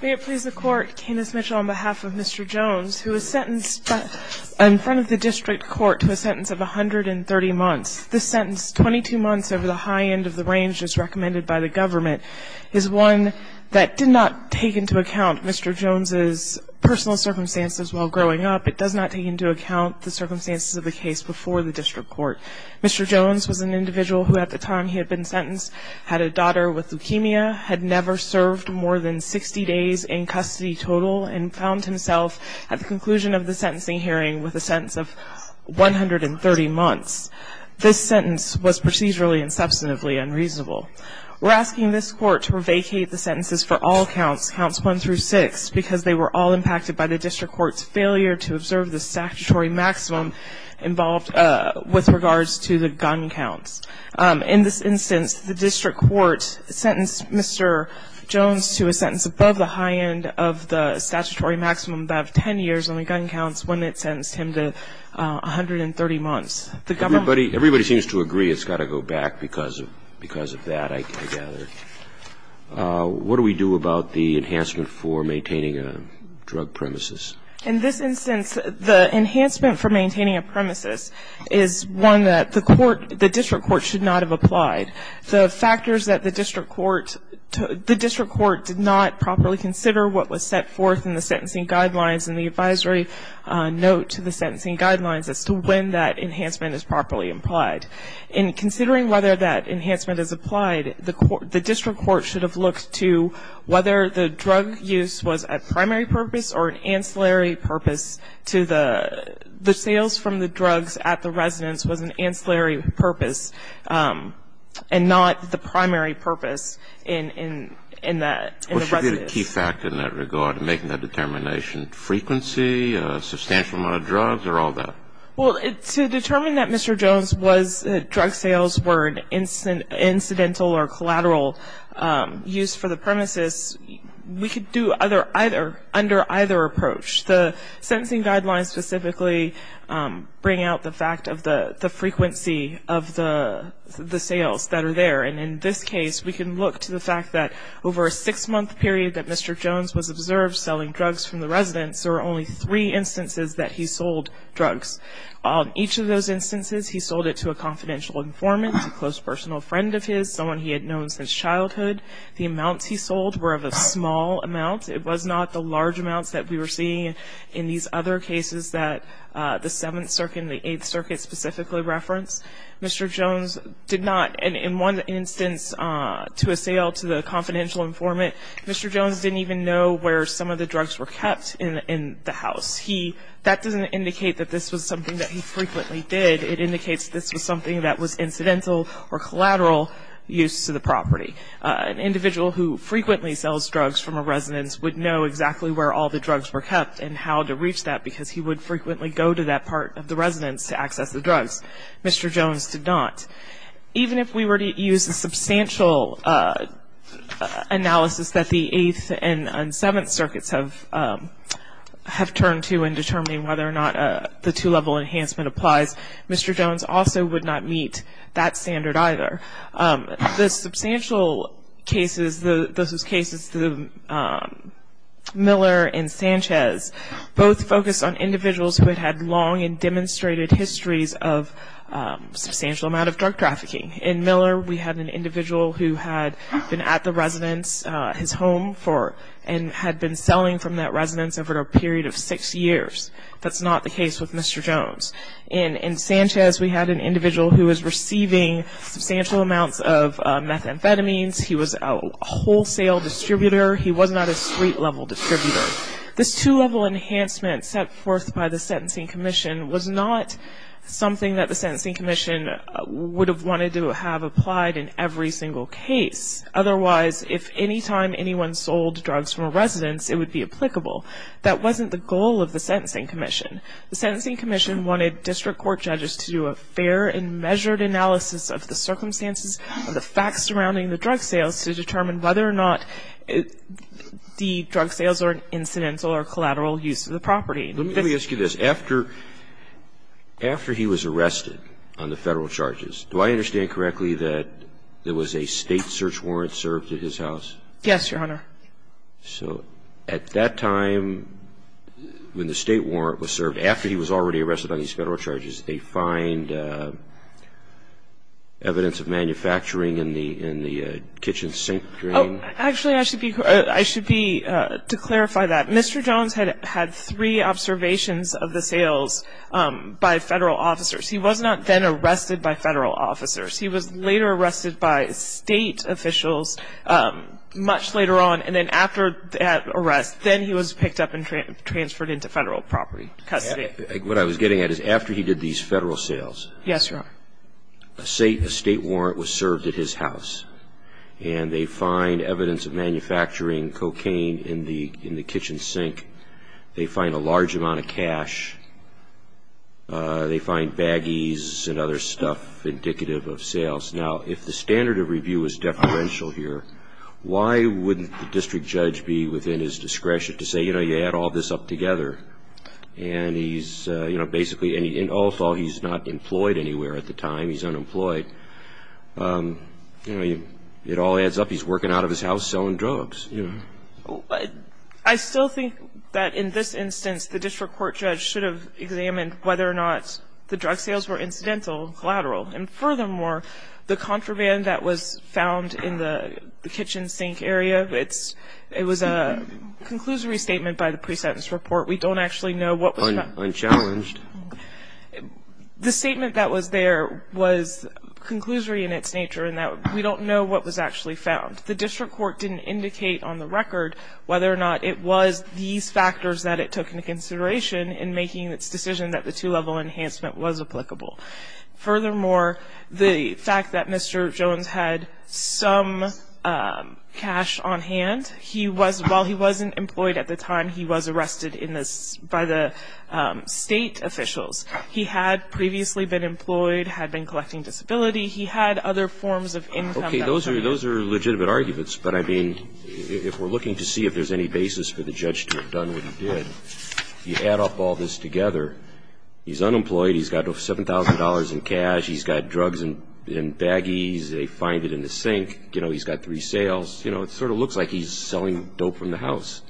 May it please the court, Candace Mitchell on behalf of Mr. Jones, who was sentenced in front of the district court to a sentence of 130 months. This sentence, 22 months over the high end of the range as recommended by the government, is one that did not take into account Mr. Jones' personal circumstances while growing up. It does not take into account the circumstances of the case before the district court. Mr. Jones was an individual who at the time he had been sentenced had a daughter with leukemia, had never served more than 60 days in custody total, and found himself at the conclusion of the sentencing hearing with a sentence of 130 months. This sentence was procedurally and substantively unreasonable. We're asking this court to revocate the sentences for all counts, counts one through six, because they were all impacted by the district court's failure to observe the statutory maximum involved with regards to the gun counts. In this instance, the district court sentenced Mr. Jones to a sentence above the high end of the statutory maximum of 10 years on the gun counts when it sentenced him to 130 months. The government ---- Everybody seems to agree it's got to go back because of that, I gather. What do we do about the enhancement for maintaining a drug premises? In this instance, the enhancement for maintaining a premises is one that the court, the district court should not have applied. The factors that the district court ---- the district court did not properly consider what was set forth in the sentencing guidelines and the advisory note to the sentencing guidelines as to when that enhancement is properly implied. In considering whether that enhancement is applied, the district court should have looked to whether the drug use was a primary purpose or an ancillary purpose to the ---- the sales from the drugs at the residence was an ancillary purpose and not the primary purpose in the residence. What should be the key factor in that regard in making that determination? Frequency, substantial amount of drugs, or all that? Well, to determine that Mr. Jones' drug sales were an incidental or collateral use for the premises, we could do under either approach. The sentencing guidelines specifically bring out the fact of the frequency of the sales that are there. And in this case, we can look to the fact that over a six-month period that Mr. Jones was observed selling drugs from the residence, there were only three instances that he sold drugs. On each of those instances, he sold it to a confidential informant, a close personal friend of his, someone he had known since childhood. The amounts he sold were of a small amount. It was not the large amounts that we were seeing in these other cases that the Seventh Circuit and the Eighth Circuit specifically referenced. Mr. Jones did not, in one instance, to a sale to the confidential informant, Mr. Jones didn't even know where some of the drugs were kept in the house. That doesn't indicate that this was something that he frequently did. It indicates this was something that was incidental or collateral use to the property. An individual who frequently sells drugs from a residence would know exactly where all the drugs were kept and how to reach that because he would frequently go to that part of the residence to access the drugs. Mr. Jones did not. Even if we were to use the substantial analysis that the Eighth and Seventh Circuits have turned to in determining whether or not the two-level enhancement applies, Mr. Jones also would not meet that standard either. The substantial cases, Miller and Sanchez, both focused on individuals who had had long and demonstrated histories of substantial amount of drug trafficking. In Miller, we had an individual who had been at the residence, his home, and had been selling from that residence over a period of six years. That's not the case with Mr. Jones. In Sanchez, we had an individual who was receiving substantial amounts of methamphetamines. He was a wholesale distributor. He was not a street-level distributor. This two-level enhancement set forth by the Sentencing Commission was not something that the Sentencing Commission would have wanted to have applied in every single case. Otherwise, if any time anyone sold drugs from a residence, it would be applicable. That wasn't the goal of the Sentencing Commission. The Sentencing Commission wanted district court judges to do a fair and measured analysis of the circumstances and the facts surrounding the drug sales to determine whether or not the drug sales are incidental or collateral use of the property. Let me ask you this. After he was arrested on the Federal charges, do I understand correctly that there was a state search warrant served at his house? Yes, Your Honor. So at that time, when the state warrant was served, after he was already arrested on these Federal charges, they find evidence of manufacturing in the kitchen sink drain? Actually, I should be to clarify that. Mr. Jones had had three observations of the sales by Federal officers. He was not then arrested by Federal officers. He was later arrested by state officials much later on, and then after that arrest, then he was picked up and transferred into Federal property custody. What I was getting at is after he did these Federal sales, a state warrant was served at his house, and they find evidence of manufacturing cocaine in the kitchen sink. They find a large amount of cash. They find baggies and other stuff indicative of sales. Now, if the standard of review was deferential here, why wouldn't the district judge be within his discretion to say, you know, you had all this up together? And he's, you know, basically in all fall, he's not employed anywhere at the time. He's unemployed. You know, it all adds up. He's working out of his house selling drugs, you know. I still think that in this instance, the district court judge should have examined whether or not the drug sales were incidental, collateral. And furthermore, the contraband that was found in the kitchen sink area, it was a conclusory statement by the pre-sentence report. We don't actually know what was found. Unchallenged. The statement that was there was conclusory in its nature in that we don't know what was actually found. The district court didn't indicate on the record whether or not it was these factors that it took into consideration in making its decision that the two-level enhancement was applicable. Furthermore, the fact that Mr. Jones had some cash on hand, he was, while he wasn't employed at the time, he was arrested by the state officials. He had previously been employed, had been collecting disability. He had other forms of income. Okay, those are legitimate arguments. But, I mean, if we're looking to see if there's any basis for the judge to have done what he did, you add up all this together, he's unemployed, he's got $7,000 in cash, he's got drugs in baggies, they find it in the sink, you know, he's got three sales. You know, it sort of looks like he's selling dope from the house.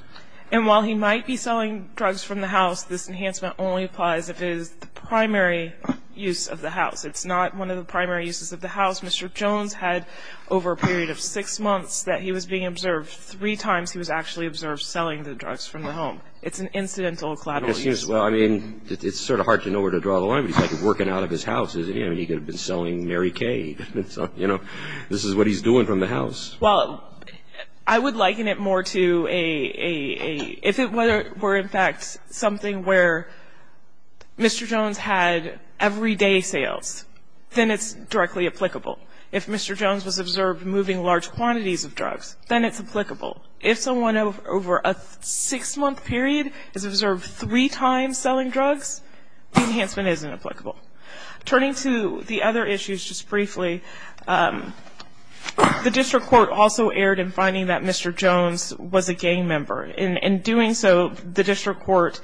And while he might be selling drugs from the house, this enhancement only applies if it is the primary use of the house. It's not one of the primary uses of the house. Mr. Jones had, over a period of six months, that he was being observed three times he was actually observed selling the drugs from the home. It's an incidental collateral use. Well, I mean, it's sort of hard to know where to draw the line. But he's, like, working out of his house, isn't he? I mean, he could have been selling Mary Kay. You know, this is what he's doing from the house. Well, I would liken it more to a, if it were, in fact, something where Mr. Jones had everyday sales, then it's directly applicable. If Mr. Jones was observed moving large quantities of drugs, then it's applicable. If someone over a six-month period is observed three times selling drugs, the enhancement isn't applicable. Turning to the other issues just briefly, the district court also erred in finding that Mr. Jones was a gang member. In doing so, the district court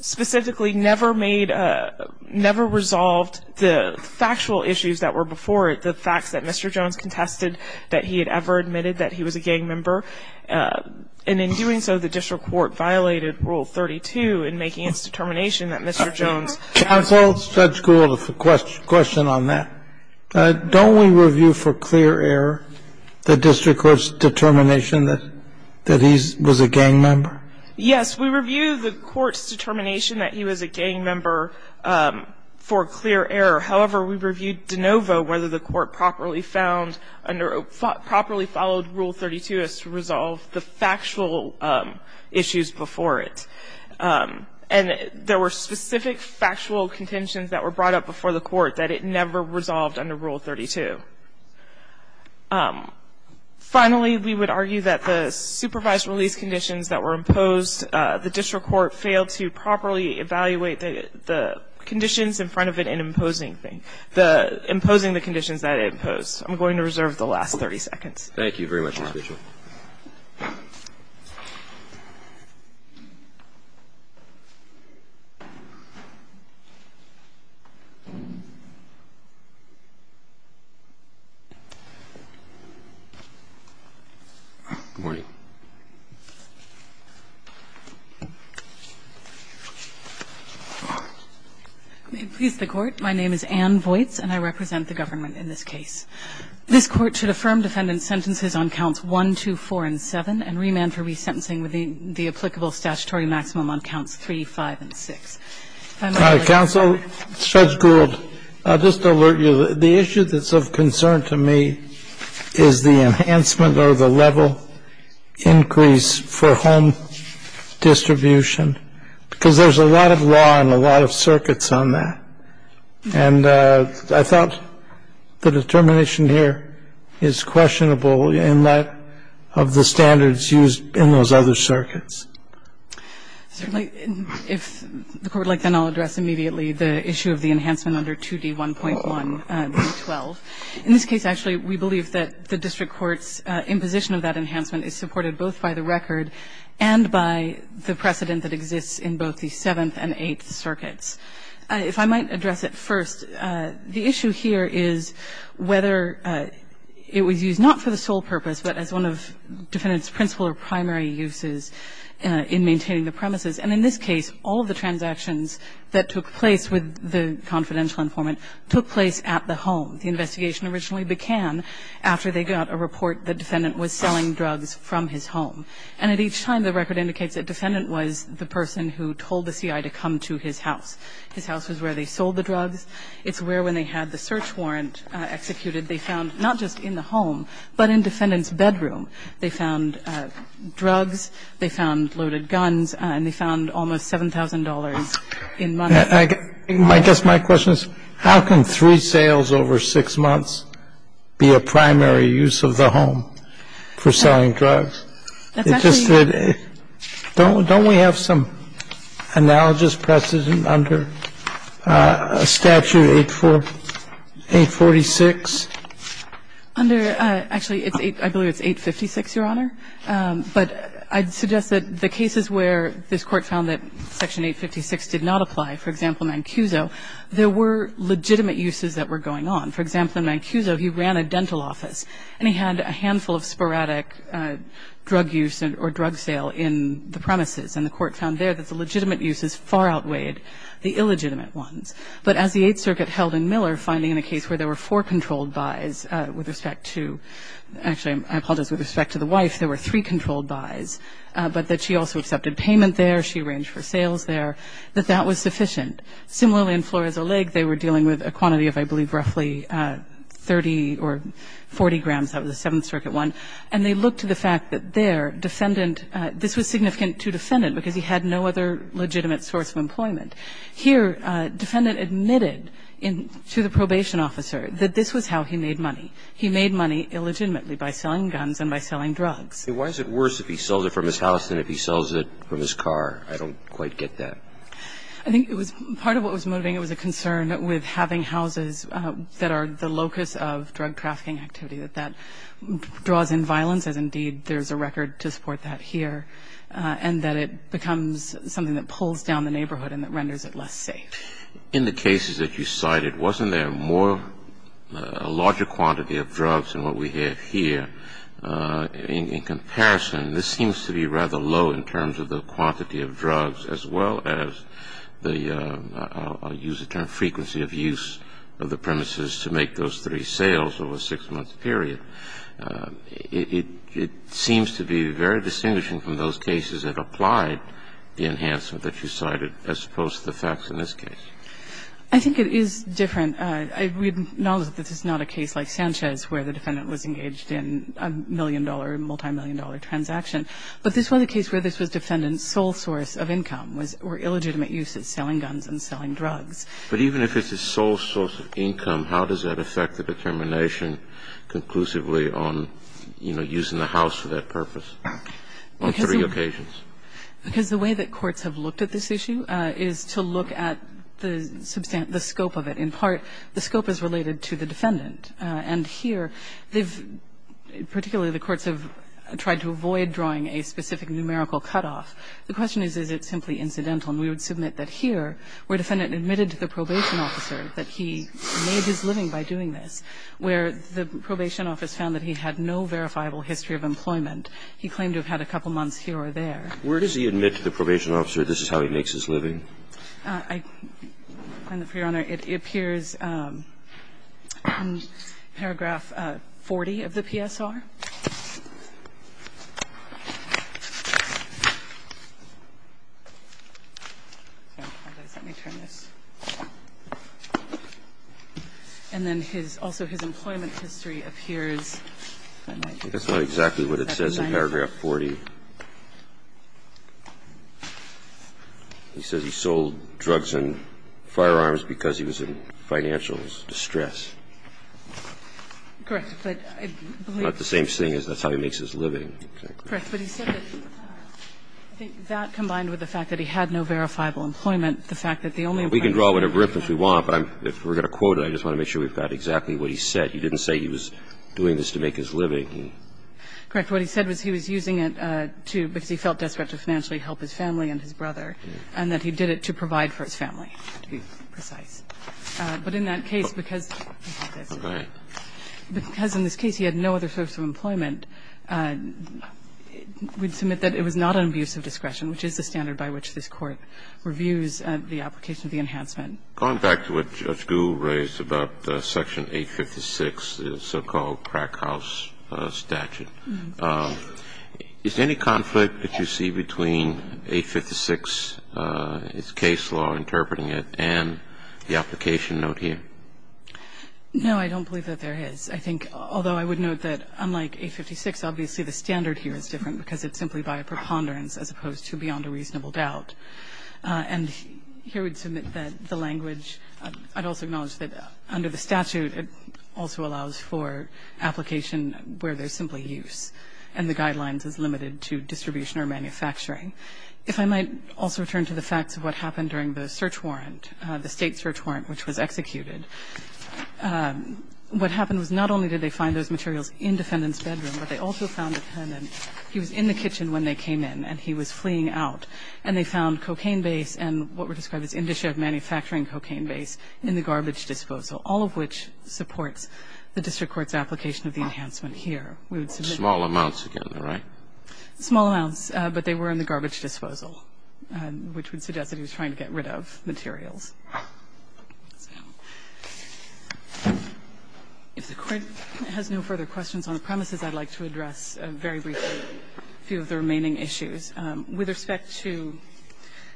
specifically never made, never resolved the factual issues that were before it, the facts that Mr. Jones contested that he had ever admitted that he was a gang member. And in doing so, the district court violated Rule 32 in making its determination that Mr. Jones was a gang member. Counsel, Judge Gould, a question on that. Don't we review for clear error the district court's determination that he was a gang member? Yes. We review the court's determination that he was a gang member for clear error. However, we reviewed de novo whether the court properly found, properly followed Rule 32 as to resolve the factual issues before it. And there were specific factual contentions that were brought up before the court that it never resolved under Rule 32. Finally, we would argue that the supervised release conditions that were imposed, the district court failed to properly evaluate the conditions in front of it in imposing the conditions that it imposed. I'm going to reserve the last 30 seconds. Thank you very much, appreciate it. Good morning. May it please the Court. My name is Anne Voites and I represent the government in this case. This Court should affirm defendant's sentences on counts 1, 2, 4, and 7 and remand for resentencing with the applicable statutory maximum on counts 3, 5, and 6. Counsel, Judge Gould, I'll just alert you. The issue that's of concern to me is the enhancement or the level increase for home distribution because there's a lot of law and a lot of circuits on that. And I thought the determination here is questionable in light of the standards used in those other circuits. Certainly. If the Court would like, then I'll address immediately the issue of the enhancement under 2D1.1.12. In this case, actually, we believe that the district court's imposition of that enhancement is supported both by the record and by the precedent that exists in both the Seventh and Eighth Circuits. If I might address it first, the issue here is whether it was used not for the sole purpose, but as one of defendant's principal or primary uses in maintaining the premises. And in this case, all of the transactions that took place with the confidential informant took place at the home. The investigation originally began after they got a report that defendant was selling drugs from his home. And at each time, the record indicates that defendant was the person who told the C.I. to come to his house. His house was where they sold the drugs. It's where, when they had the search warrant executed, they found, not just in the home, but in defendant's bedroom. They found drugs. They found loaded guns. And they found almost $7,000 in money. I guess my question is, how can three sales over six months be a primary use of the home for selling drugs? home for selling drugs? It just said don't we have some analogous precedent under statute 846? Under – actually, it's 8 – I believe it's 856, Your Honor. But I'd suggest that the cases where this Court found that Section 856 did not apply, for example, in Mancuso, there were legitimate uses that were going on. For example, in Mancuso, he ran a dental office, and he had a handful of sporadic drug use or drug sale in the premises. And the Court found there that the legitimate uses far outweighed the illegitimate ones. But as the Eighth Circuit held in Miller, finding in a case where there were four controlled buys with respect to – actually, I apologize, with respect to the wife, there were three controlled buys, but that she also accepted payment there, she arranged for sales there, that that was sufficient. Similarly, in Flores O'Lake, they were dealing with a quantity of, I believe, roughly 30 or 40 grams. That was the Seventh Circuit one. And they looked to the fact that there, defendant – this was significant to defendant because he had no other legitimate source of employment. Here, defendant admitted to the probation officer that this was how he made money. He made money illegitimately by selling guns and by selling drugs. Why is it worse if he sells it from his house than if he sells it from his car? I don't quite get that. I think it was – part of what was motivating it was a concern with having houses that are the locus of drug trafficking activity, that that draws in violence, as indeed there's a record to support that here, and that it becomes something that pulls down the neighborhood and that renders it less safe. In the cases that you cited, wasn't there more – a larger quantity of drugs than what we have here? In comparison, this seems to be rather low in terms of the quantity of drugs as well as the – I'll use the term frequency of use of the premises to make those three sales over a six-month period. It seems to be very distinguishing from those cases that applied the enhancement that you cited as opposed to the facts in this case. I think it is different. We acknowledge that this is not a case like Sanchez where the defendant was engaged in a million-dollar, multimillion-dollar transaction. But this was a case where this was the defendant's sole source of income, or illegitimate use of selling guns and selling drugs. But even if it's his sole source of income, how does that affect the determination conclusively on, you know, using the house for that purpose on three occasions? Because the way that courts have looked at this issue is to look at the scope of it. In part, the scope is related to the defendant. And here, they've – particularly the courts have tried to avoid drawing a specific numerical cutoff. The question is, is it simply incidental? And we would submit that here, where the defendant admitted to the probation officer that he made his living by doing this, where the probation office found that he had no verifiable history of employment, he claimed to have had a couple months here or there. Where does he admit to the probation officer this is how he makes his living? I find that, Your Honor, it appears in paragraph 40 of the PSR. Let me turn this. And then his – also his employment history appears. That's not exactly what it says in paragraph 40. He says he sold drugs and firearms because he was in financial distress. Correct. But I believe – Not the same thing as that's how he makes his living. Correct. But he said that combined with the fact that he had no verifiable employment, the fact that the only – We can draw whatever inference we want, but if we're going to quote it, I just want to make sure we've got exactly what he said. He didn't say he was doing this to make his living. Correct. What he said was he was using it to – because he felt desperate to financially help his family and his brother, and that he did it to provide for his family, to be precise. But in that case, because – Okay. Because in this case he had no other source of employment, we'd submit that it was not an abuse of discretion, which is the standard by which this Court reviews the application of the enhancement. Going back to what Judge Gould raised about Section 856, the so-called crackhouse statute, is there any conflict that you see between 856, its case law interpreting it, and the application note here? No, I don't believe that there is. I think – although I would note that unlike 856, obviously the standard here is different because it's simply by a preponderance as opposed to beyond a reasonable doubt. And here we'd submit that the language – I'd also acknowledge that under the statute it also allows for application where there's simply use, and the guidelines is limited to distribution or manufacturing. If I might also return to the facts of what happened during the search warrant, the State search warrant which was executed, what happened was not only did they find those materials in the defendant's bedroom, but they also found that Herman He was in the kitchen when they came in, and he was fleeing out. And they found cocaine base and what were described as industry of manufacturing cocaine base in the garbage disposal, all of which supports the district court's application of the enhancement here. We would submit that. Small amounts together, right? Small amounts, but they were in the garbage disposal, which would suggest that he was trying to get rid of materials. If the Court has no further questions on the premises, I'd like to address a very brief view of the remaining issues. With respect to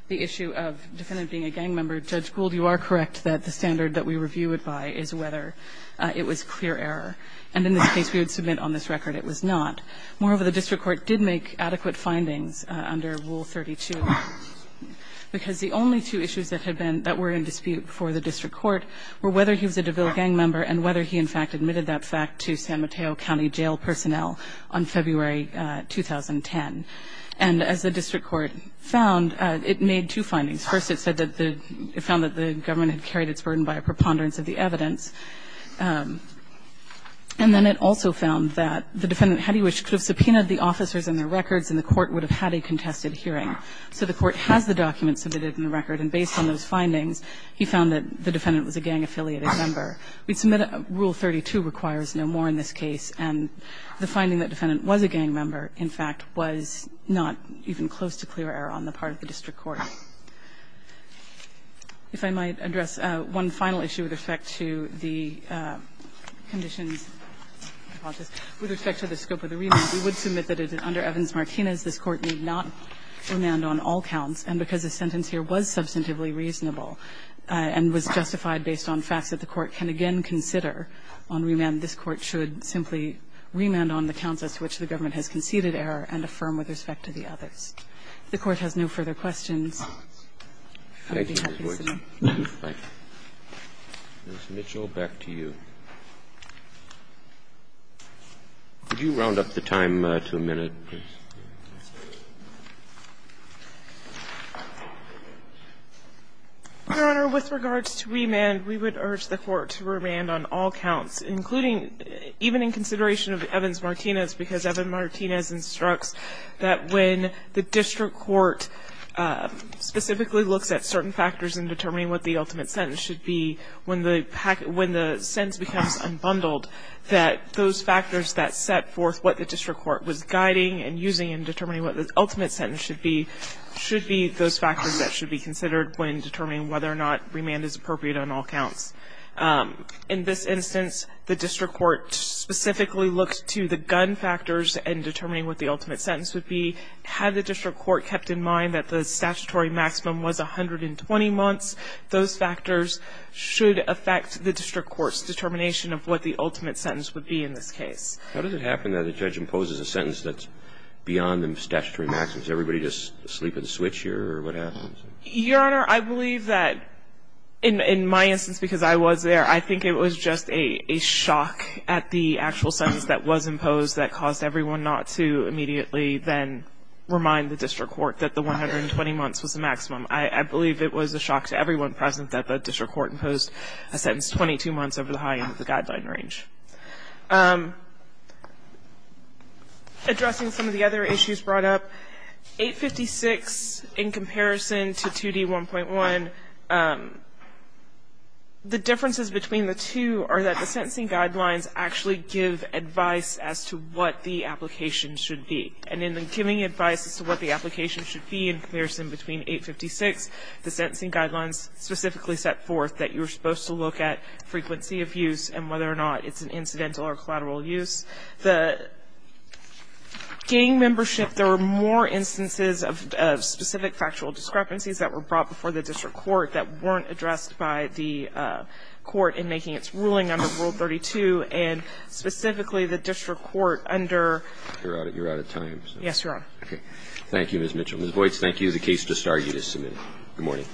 the issue of the defendant being a gang member, Judge Gould, you are correct that the standard that we review it by is whether it was clear error. And in this case, we would submit on this record it was not. Moreover, the district court did make adequate findings under Rule 32, because the only two issues that had been – that were in dispute before the district court were whether he was a DeVille gang member and whether he, in fact, admitted that fact to San Mateo County jail personnel on February 2010. And as the district court found, it made two findings. First, it said that the – it found that the government had carried its burden by a preponderance of the evidence. And then it also found that the defendant had he wished could have subpoenaed the officers and their records, and the court would have had a contested hearing. So the court has the documents submitted in the record, and based on those findings, he found that the defendant was a gang-affiliated member. We'd submit Rule 32 requires no more in this case. And the finding that defendant was a gang member, in fact, was not even close to clear error on the part of the district court. If I might address one final issue with respect to the conditions, with respect to the scope of the remand, we would submit that under Evans-Martinez, this Court need not remand on all counts. And because the sentence here was substantively reasonable and was justified based on facts that the Court can again consider on remand, this Court should simply remand on the counts as to which the government has conceded error and affirm with respect to the others. If the Court has no further questions, I would be happy to sit down. Roberts. Ms. Mitchell, back to you. Could you round up the time to a minute, please? Your Honor, with regards to remand, we would urge the Court to remand on all counts, including even in consideration of Evans-Martinez, because Evans-Martinez instructs that when the district court specifically looks at certain factors in determining what the ultimate sentence should be, when the sentence becomes unbundled, that those factors should be considered when determining whether or not remand is appropriate on all counts. In this instance, the district court specifically looks to the gun factors in determining what the ultimate sentence would be. Had the district court kept in mind that the statutory maximum was 120 months, those factors should affect the district court's determination of what the ultimate sentence would be in this case. How does it happen that a judge imposes a sentence that's beyond the statutory maximum? Does everybody just sleep and switch here, or what happens? Your Honor, I believe that, in my instance, because I was there, I think it was just a shock at the actual sentence that was imposed that caused everyone not to immediately then remind the district court that the 120 months was the maximum. I believe it was a shock to everyone present that the district court imposed a sentence 22 months over the high end of the guideline range. Addressing some of the other issues brought up, 856 in comparison to 2D1.1, the differences between the two are that the sentencing guidelines actually give advice as to what the application should be. And in giving advice as to what the application should be in comparison between 856, the sentencing guidelines specifically set forth that you're supposed to look at frequency of use and whether or not it's an incidental or collateral use. The gang membership, there were more instances of specific factual discrepancies that were brought before the district court that weren't addressed by the court in making its ruling under Rule 32, and specifically the district court under ---- You're out of time. Yes, Your Honor. Okay. Thank you, Ms. Mitchell. Ms. Boyts, thank you. The case is discharged as submitted. Good morning.